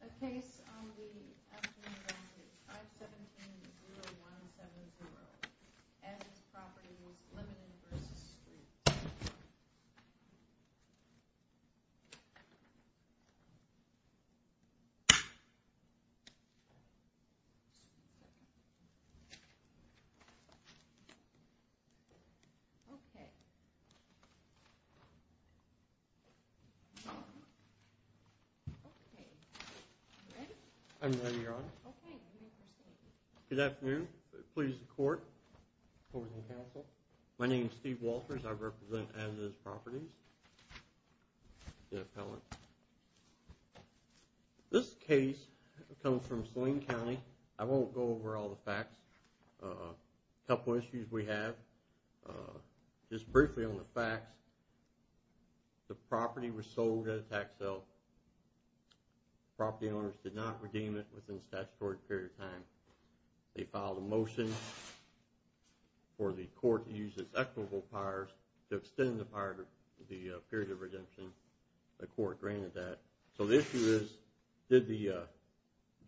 A case on the afternoon of 5-17-0170, As-IS Properites, Ltd. v. Street I'm ready, Your Honor. Okay, you may proceed. Good afternoon. Please, the Court. Court and Counsel. My name is Steve Walters. I represent As-IS Properties, the appellant. This case comes from Saline County. I won't go over all the facts. A couple issues we have. Just briefly on the facts. The property was sold at a tax sale. The property owners did not redeem it within a statutory period of time. They filed a motion for the court to use its equitable powers to extend the period of redemption. The court granted that. So the issue is, did the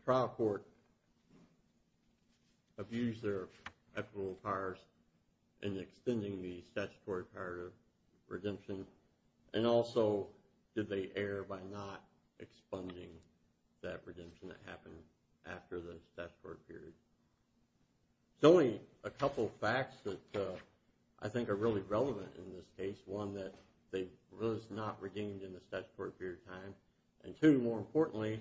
trial court abuse their equitable powers in extending the statutory period of redemption? And also, did they err by not expunging that redemption that happened after the statutory period? There's only a couple facts that I think are really relevant in this case. One, that it was not redeemed in the statutory period of time. And two, more importantly,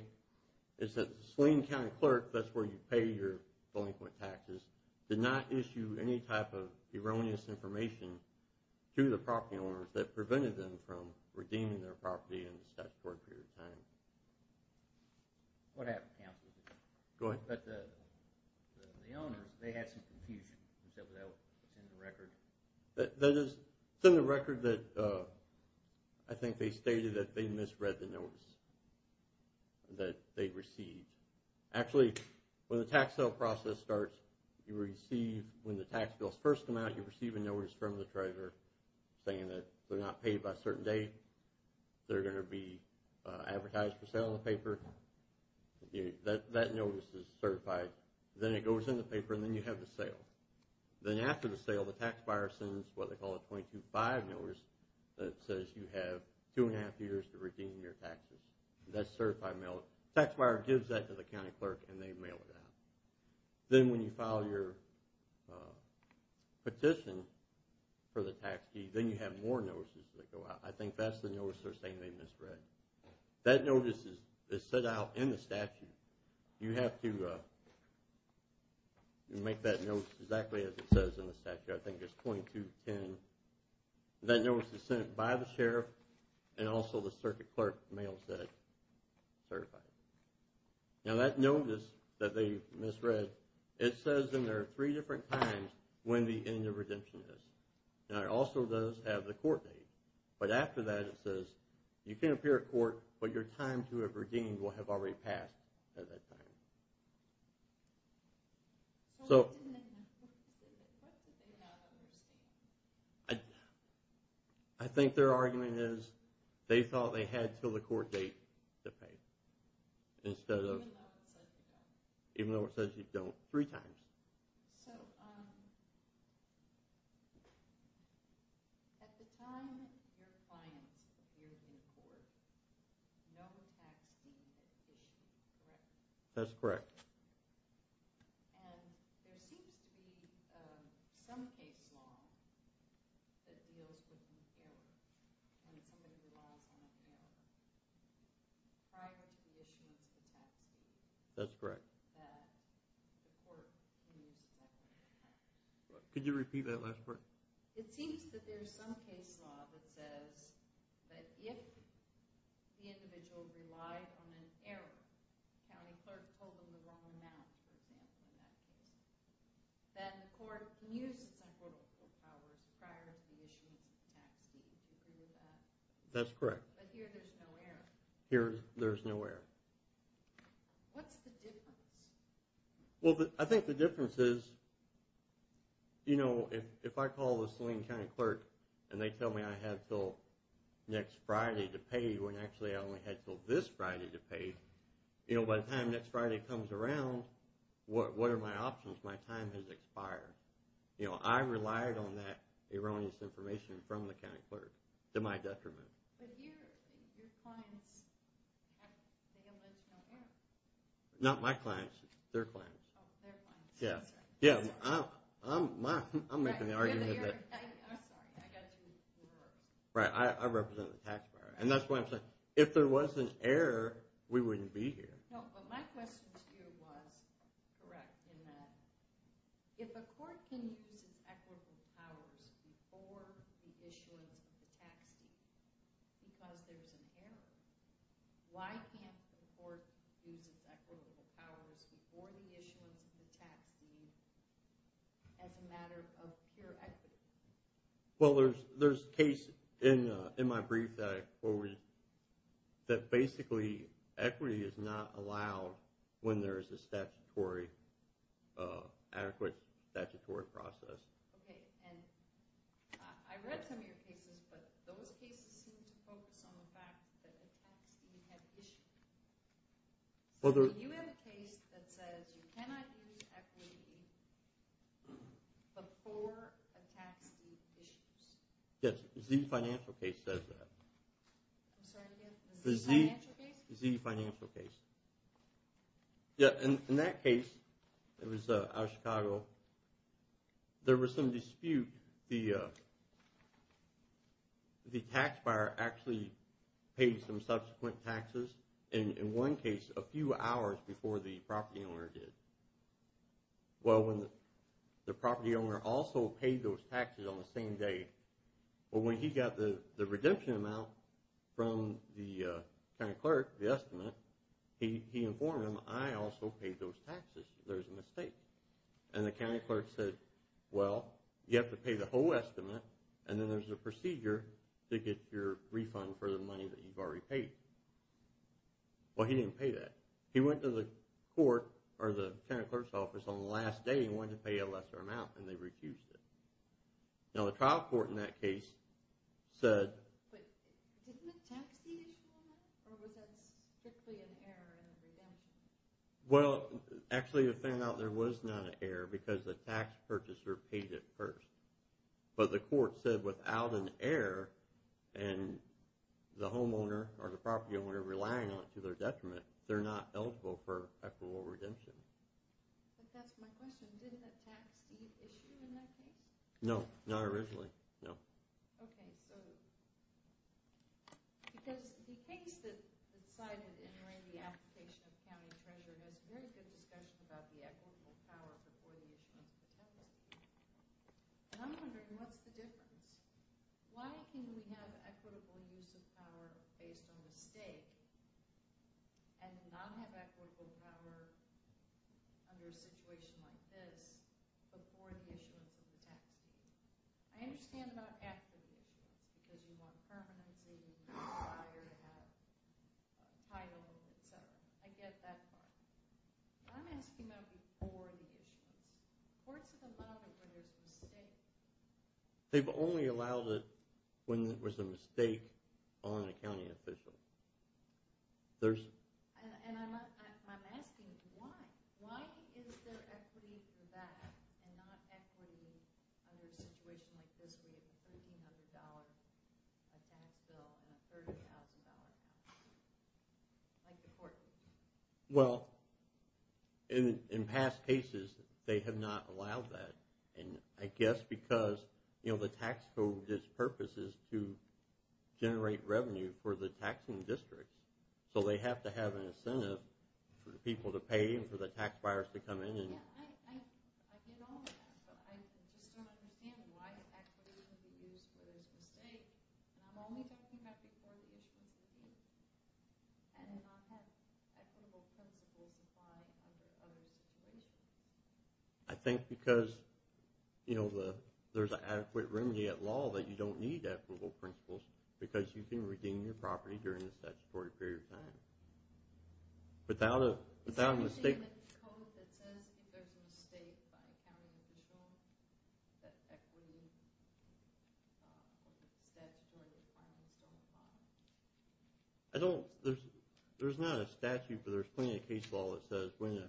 is that the Saline County clerk, that's where you pay your delinquent taxes, did not issue any type of erroneous information to the property owners that prevented them from redeeming their property in the statutory period of time. What happened, Counsel? Go ahead. The owners, they had some confusion. Is that what's in the record? That is, it's in the record that I think they stated that they misread the notice that they received. Actually, when the tax sale process starts, you receive, when the tax bills first come out, you receive a notice from the treasurer saying that they're not paid by a certain date. They're going to be advertised for sale in the paper. That notice is certified. Then it goes in the paper, and then you have the sale. Then after the sale, the tax buyer sends what they call a 22-5 notice that says you have two and a half years to redeem your taxes. That's certified mail. The tax buyer gives that to the county clerk, and they mail it out. Then when you file your petition for the tax fee, then you have more notices that go out. I think that's the notice they're saying they misread. That notice is sent out in the statute. You have to make that notice exactly as it says in the statute. I think it's 2210. That notice is sent by the sheriff, and also the circuit clerk mails that. Certified. Now, that notice that they misread, it says in there three different times when the end of redemption is. It also does have the court date. But after that, it says you can appear at court, but your time to have redeemed will have already passed at that time. So what did they not understand? I think their argument is they thought they had until the court date to pay. Even though it says you don't. Even though it says you don't, three times. So at the time your client appears in court, no tax fee, no petition, correct? That's correct. And there seems to be some case law that deals with an error when somebody relies on an error prior to the issuance of a tax fee. That's correct. That the court removes that error. Could you repeat that last part? It seems that there's some case law that says that if the individual relied on an error, the county clerk told them the wrong amount, for example, in that case, then the court can use its unquotable powers prior to the issuance of the tax fee. Do you agree with that? That's correct. But here there's no error. Here there's no error. What's the difference? Well, I think the difference is, you know, if I call the Saline County clerk and they tell me I have until next Friday to pay when actually I only have until this Friday to pay, you know, by the time next Friday comes around, what are my options? My time has expired. You know, I relied on that erroneous information from the county clerk to my detriment. But here your clients have the alleged no error. Not my clients. Their clients. Oh, their clients. Yeah. I'm making the argument. I'm sorry. I got two errors. Right. I represent the taxpayer. And that's why I'm saying if there was an error, we wouldn't be here. No, but my question to you was correct in that if a court can use its equitable powers before the issuance of the tax deed because there's an error, why can't the court use its equitable powers before the issuance of the tax deed as a matter of pure equity? Well, there's a case in my brief that basically equity is not allowed when there is a statutory, adequate statutory process. Okay. And I read some of your cases, but those cases seem to focus on the fact that a tax deed had issues. So you have a case that says you cannot use equity before a tax deed issues. Yes. The Z financial case says that. I'm sorry, again? The Z financial case? The Z financial case. Yeah. In that case, it was out of Chicago, there was some dispute. The tax buyer actually paid some subsequent taxes. And in one case, a few hours before the property owner did. Well, when the property owner also paid those taxes on the same day, Well, when he got the redemption amount from the county clerk, the estimate, he informed him, I also paid those taxes. There's a mistake. And the county clerk said, well, you have to pay the whole estimate, and then there's a procedure to get your refund for the money that you've already paid. Well, he didn't pay that. He went to the court or the county clerk's office on the last day and wanted to pay a lesser amount, and they refused it. Now, the trial court in that case said, But didn't the tax deed issue matter, or was that strictly an error in the redemption? Well, actually it turned out there was not an error because the tax purchaser paid it first. But the court said without an error, and the homeowner or the property owner relying on it to their detriment, they're not eligible for equitable redemption. But that's my question. Didn't the tax deed issue in that case? No, not originally, no. Okay, so because the case that cited in the application of county treasurer has very good discussion about the equitable power before the issuance of the tax deed, and I'm wondering what's the difference? Why can we have equitable use of power based on mistake and not have equitable power under a situation like this before the issuance of the tax deed? I understand about after the issuance, because you want permanency, you desire to have title, etc. I get that part. But I'm asking about before the issuance. Courts have allowed it when there's a mistake. They've only allowed it when there was a mistake on a county official. And I'm asking why. Why is there equity for that and not equity under a situation like this where you have a $1,300 tax bill and a $30,000 tax bill? Like the court did. Well, in past cases, they have not allowed that. And I guess because the tax code's purpose is to generate revenue for the taxing districts, so they have to have an incentive for the people to pay and for the tax buyers to come in. I get all of that, but I just don't understand why equity can be used where there's a mistake. And I'm only talking about before the issuance of the deed and not have equitable principle supply under other situations. I think because there's an adequate remedy at law that you don't need equitable principles because you can regain your property during the statutory period of time. Is there anything in the code that says if there's a mistake by a county official that equity or the statutory requirements don't apply? There's not a statute, but there's plenty of case law that says when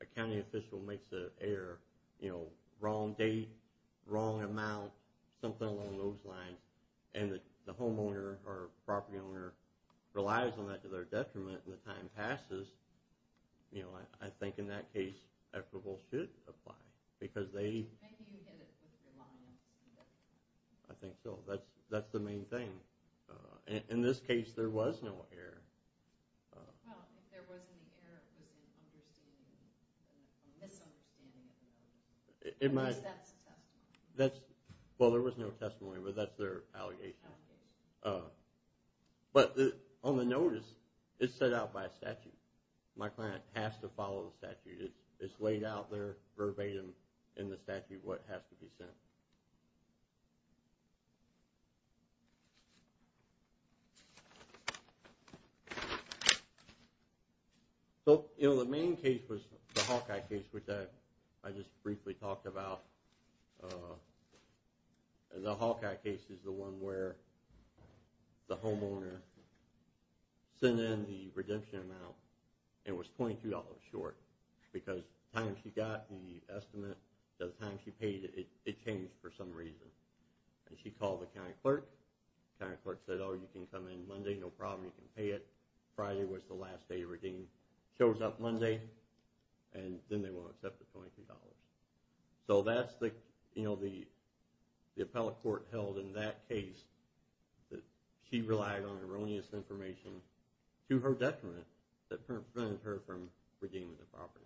a county official makes an error, wrong date, wrong amount, something along those lines, and the homeowner or property owner relies on that to their detriment and the time passes, I think in that case, equitable should apply because they... I think you get it with the requirements. I think so. That's the main thing. In this case, there was no error. Well, if there wasn't an error, it was a misunderstanding. At least that's a testimony. Well, there was no testimony, but that's their allegation. Allegation. But on the notice, it's set out by a statute. My client has to follow the statute. It's laid out there verbatim in the statute what has to be sent. So, you know, the main case was the Hawkeye case, which I just briefly talked about. The Hawkeye case is the one where the homeowner sent in the redemption amount, and it was $22 short because by the time she got the estimate, by the time she paid it, it changed for some reason. And she called the county clerk. The county clerk said, Oh, you can come in Monday. No problem. You can pay it. Friday was the last day of redeem. Shows up Monday, and then they won't accept the $23. So that's the, you know, the appellate court held in that case that she relied on erroneous information to her detriment that prevented her from redeeming the property.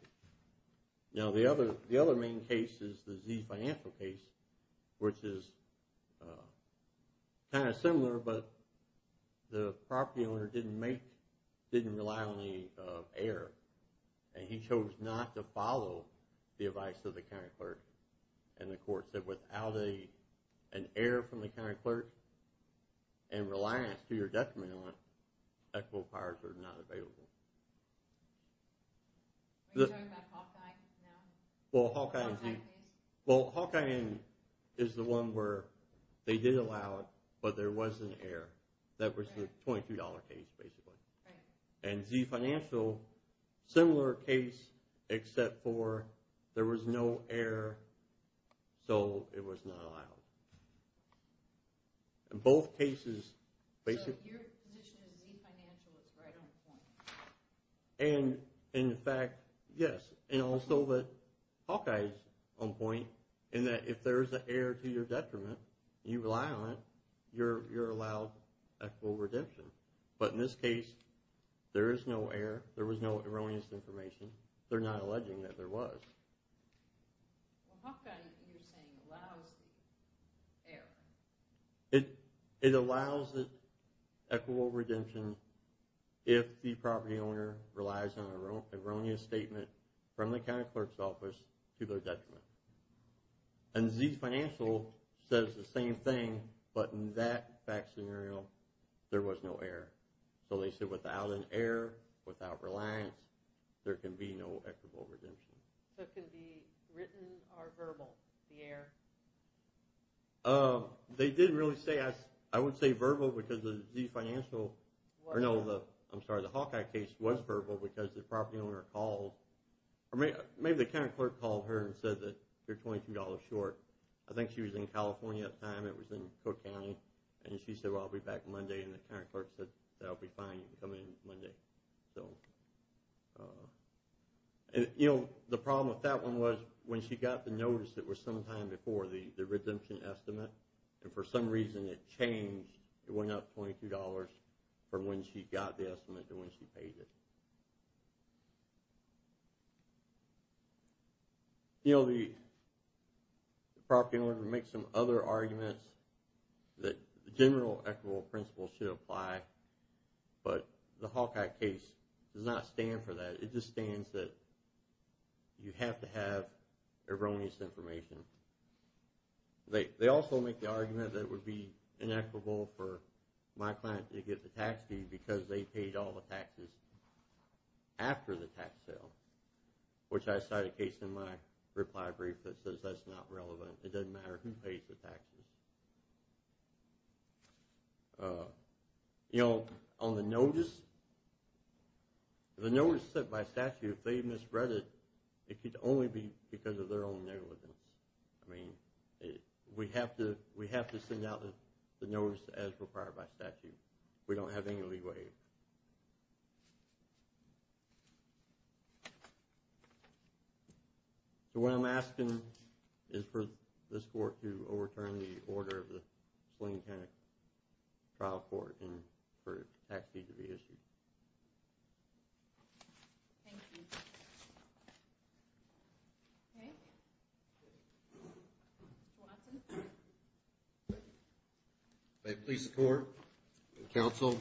Now, the other main case is the Z financial case, which is kind of similar, but the property owner didn't make, didn't rely on the error, and he chose not to follow the advice of the county clerk. And the court said without an error from the county clerk and reliance to your detriment on it, equitable powers are not available. Are you talking about Hawkeye now? Well, Hawkeye Z. Hawkeye case? Well, Hawkeye N is the one where they did allow it, but there was an error. That was the $22 case, basically. And Z financial, similar case, except for there was no error, so it was not allowed. In both cases, basically. So your position is Z financial is right on point. And in fact, yes, and also that Hawkeye is on point in that if there is an error to your detriment and you rely on it, you're allowed equitable redemption. But in this case, there is no error. There was no erroneous information. They're not alleging that there was. Well, Hawkeye, you're saying, allows the error. It allows equitable redemption if the property owner relies on an erroneous statement from the county clerk's office to their detriment. And Z financial says the same thing, but in that fact scenario, there was no error. So they said without an error, without reliance, there can be no equitable redemption. So it can be written or verbal, the error? They didn't really say, I would say verbal because the Hawkeye case was verbal because the property owner called, or maybe the county clerk called her and said that you're $22 short. I think she was in California at the time. It was in Cook County. And she said, well, I'll be back Monday. And the county clerk said, that will be fine. You can come in Monday. The problem with that one was when she got the notice, it was sometime before the redemption estimate. And for some reason, it changed. It went up $22 from when she got the estimate to when she paid it. You know, the property owner makes some other arguments that the general equitable principle should apply, but the Hawkeye case does not stand for that. It just stands that you have to have erroneous information. They also make the argument that it would be inequitable for my client to get the tax fee because they paid all the taxes after the tax sale, which I cite a case in my reply brief that says that's not relevant. It doesn't matter who pays the taxes. You know, on the notice, the notice set by statute, if they misread it, it could only be because of their own negligence. I mean, we have to send out the notice as required by statute. We don't have any leeway. Thank you. So what I'm asking is for this court to overturn the order of the Slingtonic Trial Court and for a tax fee to be issued. Thank you. Okay. Mr. Watson. Thank you. May it please the court and counsel,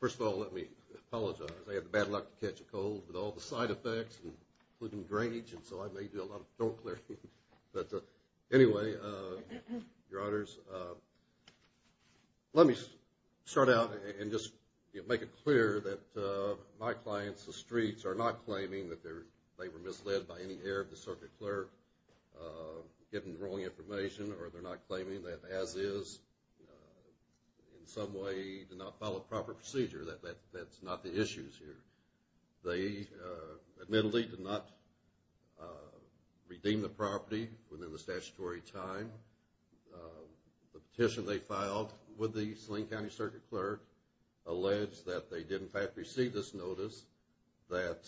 first of all, let me apologize. I had the bad luck to catch a cold with all the side effects, including drainage, and so I may do a lot of door clearing. But anyway, your honors, let me start out and just make it clear that my clients, the Streets, are not claiming that they were misled by any error of the circuit clerk getting the wrong information, or they're not claiming that, as is, in some way did not follow proper procedure. That's not the issue here. They admittedly did not redeem the property within the statutory time. The petition they filed with the Sling County Circuit Clerk alleged that they did, in fact, receive this notice that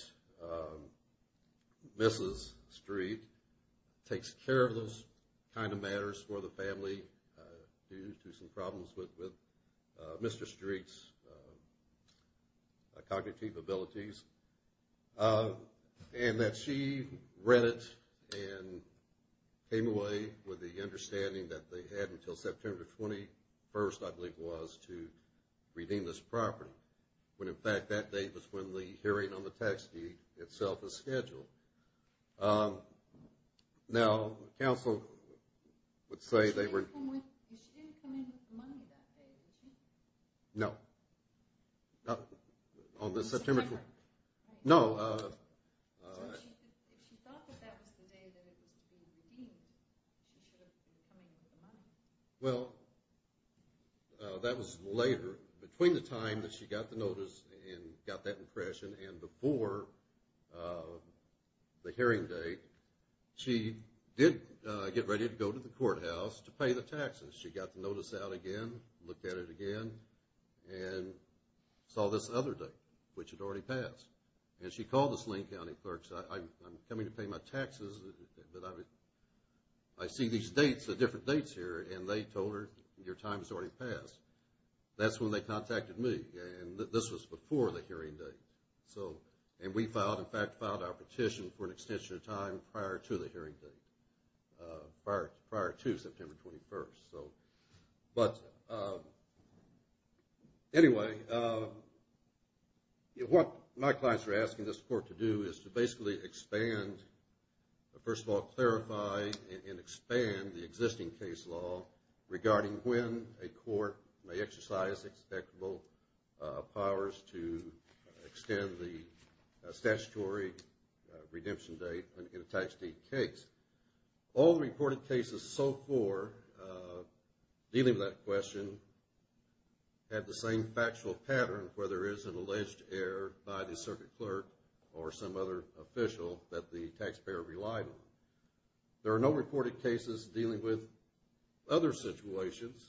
Mrs. Street takes care of those kind of matters for the family due to some problems with Mr. Street's cognitive abilities, and that she read it and came away with the understanding that they had until September 21st, I believe it was, to redeem this property. When, in fact, that day was when the hearing on the tax deed itself was scheduled. Now, counsel would say they were... She didn't come in with the money that day, did she? No. On the September 21st? Right. No. So if she thought that that was the day that it was to be redeemed, she should have been coming with the money. Well, that was later. Between the time that she got the notice and got that impression, and before the hearing date, she did get ready to go to the courthouse to pay the taxes. She got the notice out again, looked at it again, and saw this other date, which had already passed. And she called the Sling County Clerk and said, I'm coming to pay my taxes, but I see these dates, the different dates here, and they told her your time has already passed. That's when they contacted me, and this was before the hearing date. And we filed, in fact, filed our petition for an extension of time prior to the hearing date, prior to September 21st. But anyway, what my clients are asking this court to do is to basically expand, first of all, clarify and expand the existing case law regarding when a court may exercise expectable powers to extend the statutory redemption date in a type state case. All the reported cases so far dealing with that question have the same factual pattern, whether it's an alleged error by the circuit clerk or some other official that the taxpayer relied on. There are no reported cases dealing with other situations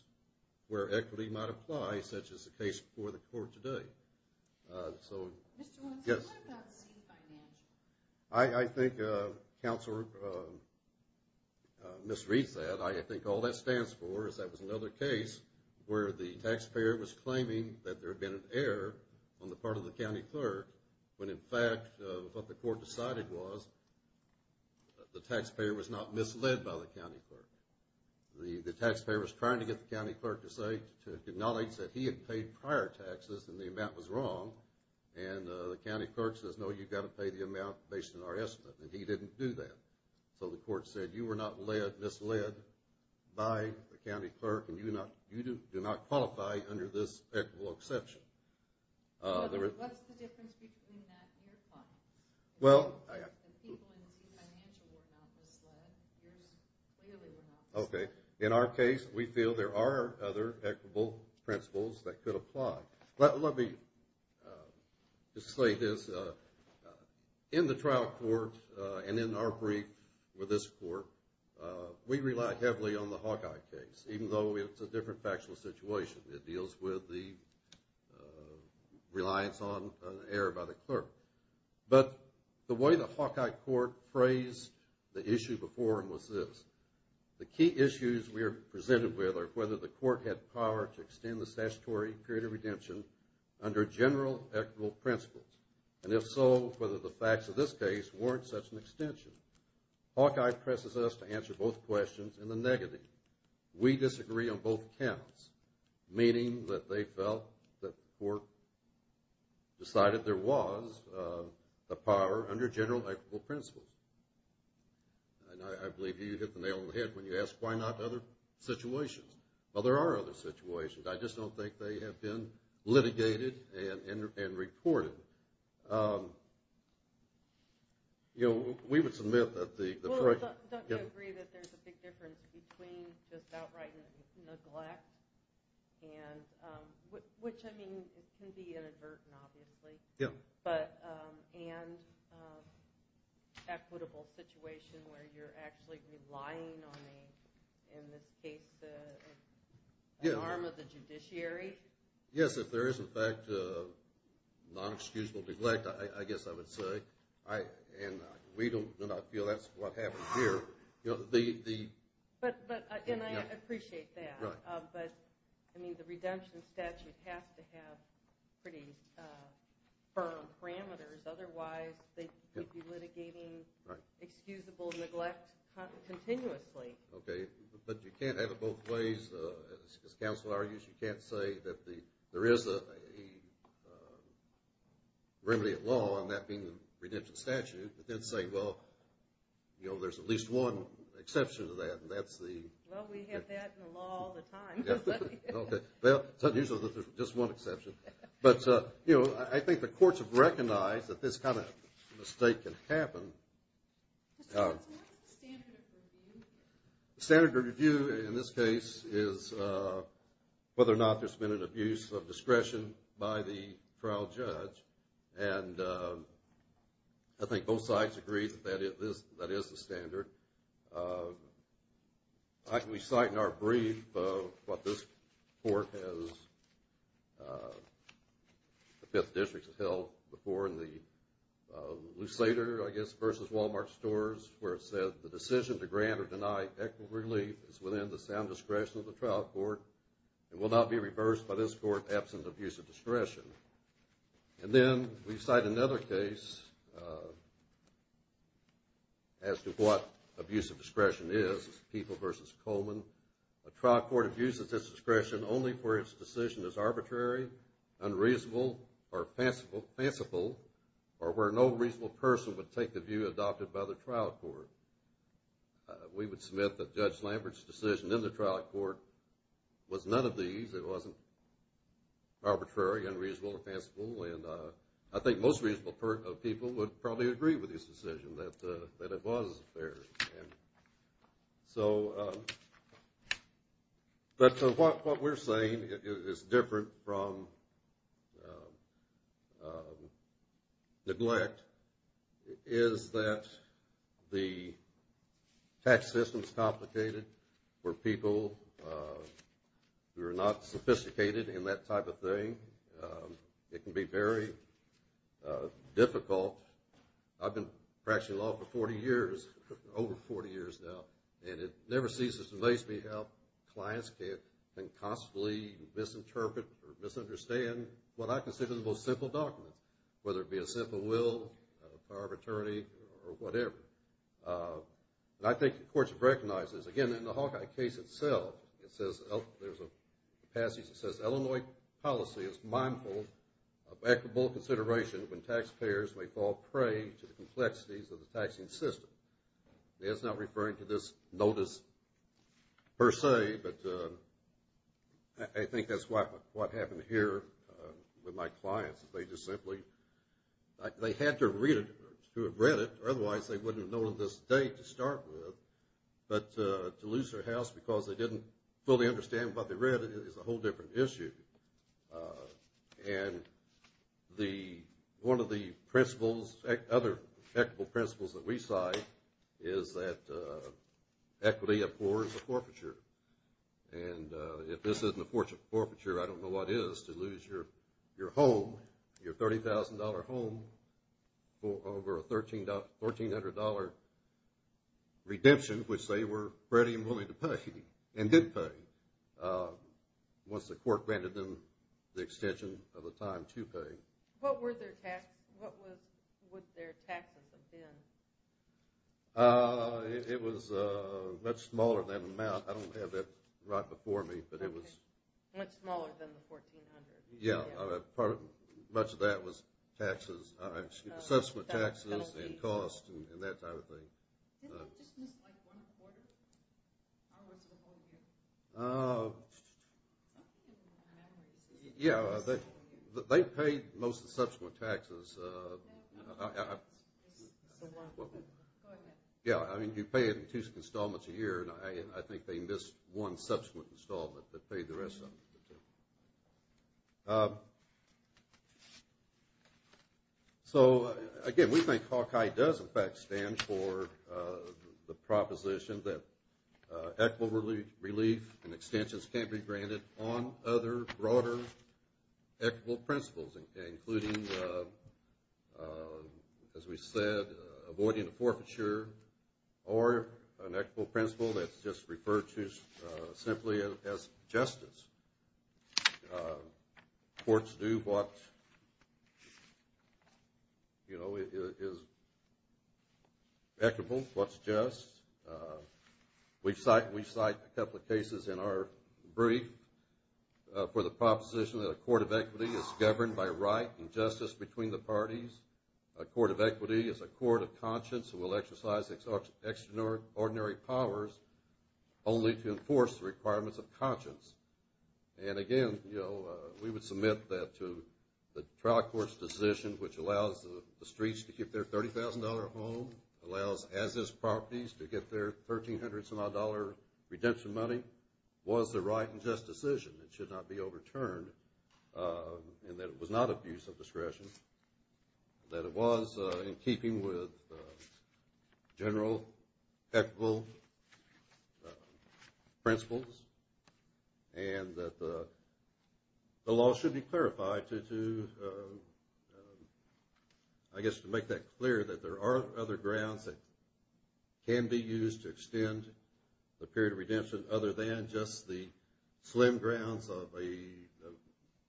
where equity might apply, such as the case before the court today. So, yes. Mr. Wentz, what about C, financial? I think counsel misreads that. I think all that stands for is that was another case where the taxpayer was claiming that there had been an error on the part of the county clerk when, in fact, what the court decided was the taxpayer was not misled by the county clerk. The taxpayer was trying to get the county clerk to acknowledge that he had paid prior taxes and the amount was wrong, and the county clerk says, no, you've got to pay the amount based on our estimate, and he didn't do that. So the court said, you were not misled by the county clerk and you do not qualify under this equitable exception. What's the difference between that and your findings? The people in C, financial were not misled. Yours clearly were not misled. Okay. In our case, we feel there are other equitable principles that could apply. Let me just say this. In the trial court and in our brief with this court, we rely heavily on the Hawkeye case, even though it's a different factual situation. It deals with the reliance on an error by the clerk. But the way the Hawkeye court phrased the issue before him was this. The key issues we are presented with are whether the court had power to extend the statutory period of redemption under general equitable principles, and if so, whether the facts of this case warrant such an extension. Hawkeye presses us to answer both questions in the negative. We disagree on both counts, meaning that they felt that the court decided there was a power under general equitable principles. And I believe you hit the nail on the head when you asked why not other situations. Well, there are other situations. I just don't think they have been litigated and reported. You know, we would submit that the court – Well, don't you agree that there's a big difference between just outright neglect and – which, I mean, it can be inadvertent, obviously. Yeah. And equitable situation where you're actually relying on a, in this case, an arm of the judiciary. Yes, if there is, in fact, non-excusable neglect, I guess I would say. And we do not feel that's what happened here. But – and I appreciate that. Right. But, I mean, the redemption statute has to have pretty firm parameters. Otherwise, they could be litigating excusable neglect continuously. Okay. But you can't have it both ways, as counsel argues. You can't say that there is a remedy of law, and that being the redemption statute, but then say, well, you know, there's at least one exception to that, and that's the – Well, we have that in the law all the time. Okay. Well, it's unusual that there's just one exception. But, you know, I think the courts have recognized that this kind of mistake can happen. What is the standard of review? The standard of review in this case is whether or not there's been an abuse of discretion by the trial judge. And I think both sides agree that that is the standard. We cite in our brief what this court has – the Fifth District has held before in the Lusader, I guess, versus Wal-Mart stores where it said, the decision to grant or deny equitable relief is within the sound discretion of the trial court and will not be reversed by this court absent abuse of discretion. And then we cite another case as to what abuse of discretion is, People v. Coleman. A trial court abuses its discretion only where its decision is arbitrary, unreasonable, or fanciful, or where no reasonable person would take the view adopted by the trial court. We would submit that Judge Lambert's decision in the trial court was none of these. It wasn't arbitrary, unreasonable, or fanciful. And I think most reasonable people would probably agree with his decision that it was fair. So – but what we're saying is different from neglect, is that the tax system is complicated for people who are not sophisticated in that type of thing. It can be very difficult. I've been practicing law for 40 years, over 40 years now, and it never ceases to amaze me how clients can constantly misinterpret or misunderstand what I consider the most simple documents, whether it be a simple will, power of attorney, or whatever. And I think the courts have recognized this. Again, in the Hawkeye case itself, it says – there's a passage that says, Illinois policy is mindful of equitable consideration when taxpayers may fall prey to the complexities of the taxing system. It's not referring to this notice per se, but I think that's what happened here with my clients. They just simply – they had to read it or otherwise they wouldn't have known this date to start with. But to lose their house because they didn't fully understand what they read is a whole different issue. And the – one of the principles, other equitable principles that we cite, is that equity affords a forfeiture. And if this isn't a forfeiture, I don't know what is, to lose your home, your $30,000 home, for over a $1,300 redemption, which they were ready and willing to pay and did pay once the court granted them the extension of the time to pay. What would their taxes have been? It was much smaller than the amount. I don't have that right before me, but it was – Much smaller than the $1,400. Yeah, part of – much of that was taxes, subsequent taxes and costs and that type of thing. Didn't they just miss like one quarter? Or was it a whole year? Yeah, they paid most of the subsequent taxes. Yeah, I mean, you pay it in two installments a year, and I think they missed one subsequent installment that paid the rest of it. So, again, we think Hawkeye does, in fact, stand for the proposition that equitable relief and extensions can't be granted on other broader equitable principles, including, as we said, avoiding a forfeiture or an equitable principle that's just referred to simply as justice. Courts do what, you know, is equitable, what's just. We cite a couple of cases in our brief for the proposition that a court of equity is governed by right and justice between the parties. A court of equity is a court of conscience who will exercise extraordinary powers only to enforce the requirements of conscience. And, again, you know, we would submit that to the trial court's decision, which allows the streets to keep their $30,000 home, allows as-is properties to get their $1,300-some-odd redemption money, was a right and just decision. It should not be overturned in that it was not abuse of discretion, that it was in keeping with general equitable principles, and that the law should be clarified to, I guess, to make that clear that there are other grounds that can be used to extend the period of redemption other than just the slim grounds of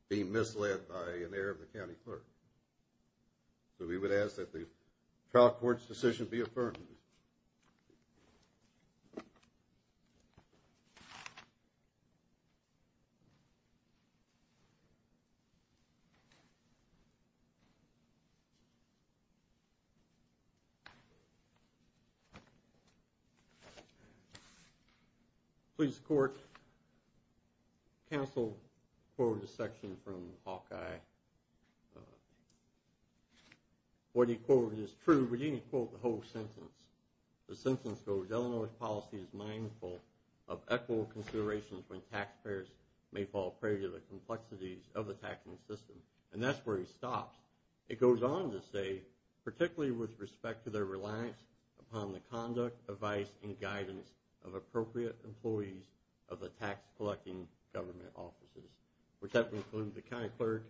being misled by an heir of the county clerk. So we would ask that the trial court's decision be affirmed. Please court, counsel quoted a section from Hawkeye. What he quoted is true, but he didn't quote the whole sentence. The sentence goes, Illinois policy is mindful of equitable considerations when taxpayers may fall prey to the complexities of the taxing system. And that's where he stops. It goes on to say, particularly with respect to their reliance upon the conduct, advice, and guidance of appropriate employees of the tax-collecting government offices, which that would include the county clerk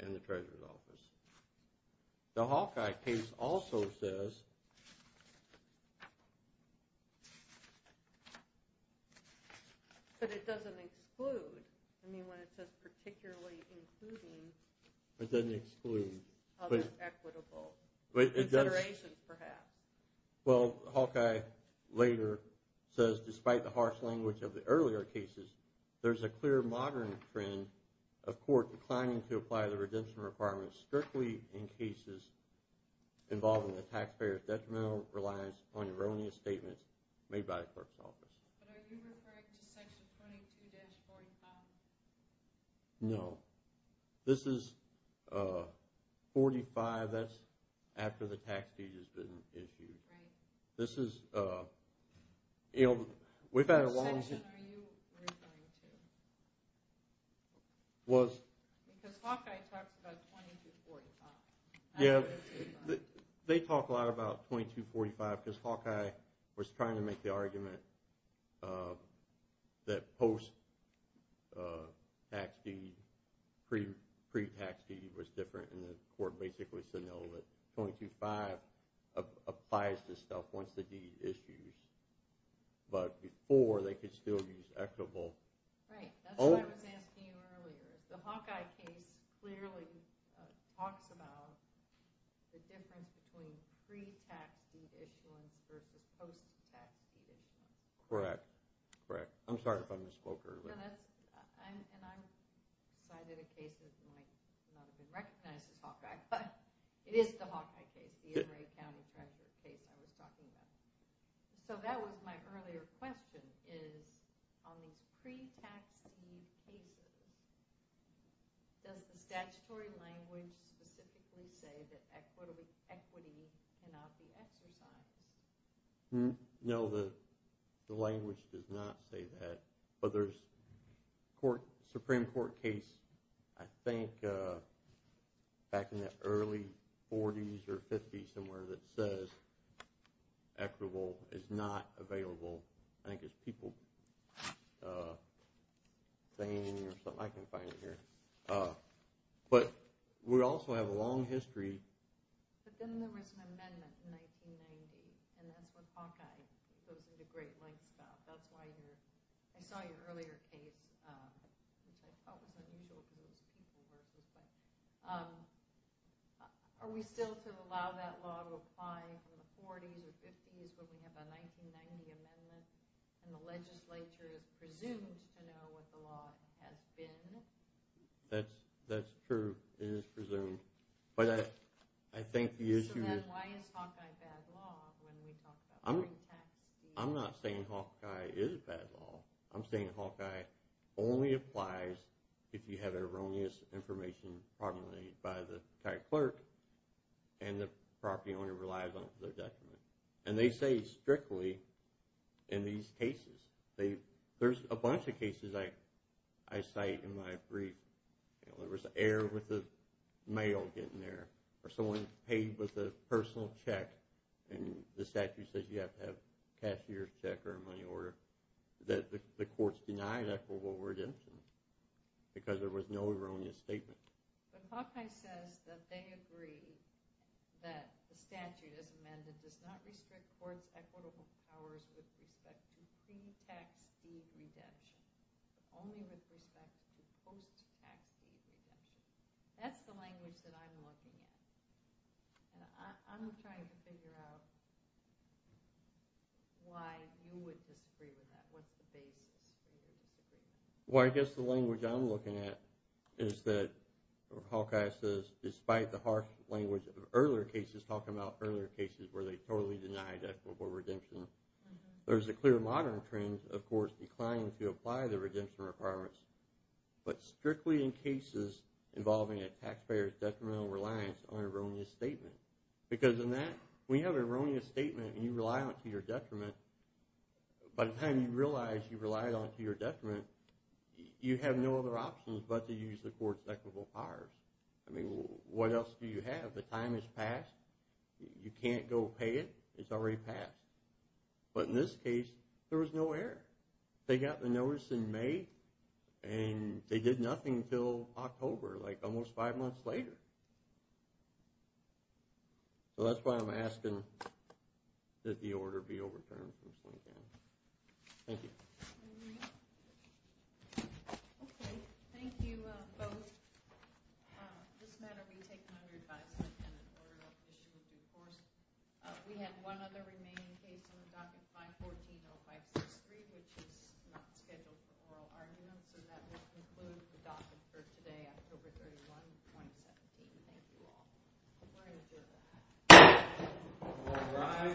and the treasurer's office. The Hawkeye case also says. But it doesn't exclude. I mean, when it says particularly including. It doesn't exclude. Other equitable considerations, perhaps. Well, Hawkeye later says, despite the harsh language of the earlier cases, there's a clear modern trend of court declining to apply the redemption requirements strictly in cases involving the taxpayer's detrimental reliance on erroneous statements made by the clerk's office. But are you referring to section 22-45? No. This is 45. That's after the tax deed has been issued. Right. What section are you referring to? Because Hawkeye talks about 22-45. Yeah, they talk a lot about 22-45 because Hawkeye was trying to make the argument that post-tax deed, pre-tax deed was different, and the court basically said no, that 22-5 applies to stuff once the deed is used. But before, they could still use equitable. Right. That's what I was asking you earlier. The Hawkeye case clearly talks about the difference between pre-tax deed issuance versus post-tax deed issuance. Correct. I'm sorry if I misspoke earlier. And I cited a case that might not have been recognized as Hawkeye, but it is the Hawkeye case, the Enright County Treasurer case I was talking about. So that was my earlier question, is on these pre-tax deed cases, does the statutory language specifically say that equity cannot be exercised? No, the language does not say that. But there's a Supreme Court case I think back in the early 40s or 50s somewhere that says equitable is not available. I think it's people thing or something. I can't find it here. But we also have a long history. But then there was an amendment in 1990, and that's what Hawkeye goes into great lengths about. That's why I saw your earlier case, which I thought was unusual because it was people versus. But are we still to allow that law to apply in the 40s or 50s when we have a 1990 amendment and the legislature is presumed to know what the law has been? That's true. It is presumed. But I think the issue is. So then why is Hawkeye bad law when we talk about pre-tax deeds? I'm not saying Hawkeye is bad law. I'm saying Hawkeye only applies if you have erroneous information promulgated by the tax clerk and the property owner relies on it for their document. And they say strictly in these cases. There's a bunch of cases I cite in my brief. There was an error with the mail getting there or someone paid with a personal check and the statute says you have to have a cashier's check or a money order. The courts denied equitable redemption because there was no erroneous statement. But Hawkeye says that they agree that the statute as amended does not restrict courts' equitable powers with respect to pre-tax deed redemption but only with respect to post-tax deed redemption. That's the language that I'm looking at. And I'm trying to figure out why you would disagree with that. What's the basis for your disagreement? Well, I guess the language I'm looking at is that Hawkeye says despite the harsh language of earlier cases, talking about earlier cases where they totally denied equitable redemption, there's a clear modern trend of courts declining to apply the redemption requirements but strictly in cases involving a taxpayer's detrimental reliance on an erroneous statement. Because in that, when you have an erroneous statement and you rely on it to your detriment, by the time you realize you relied on it to your detriment, you have no other option but to use the court's equitable powers. I mean, what else do you have? The time has passed. You can't go pay it. It's already passed. But in this case, there was no error. They got the notice in May and they did nothing until October, like almost five months later. So that's why I'm asking that the order be overturned. Thank you. Okay. Thank you both. This matter will be taken under advisement and an oral issue of due course. We have one other remaining case on the docket 514-0563, which is not scheduled for oral argument. So that will conclude the docket for today, October 31, 2017. Thank you all. All rise.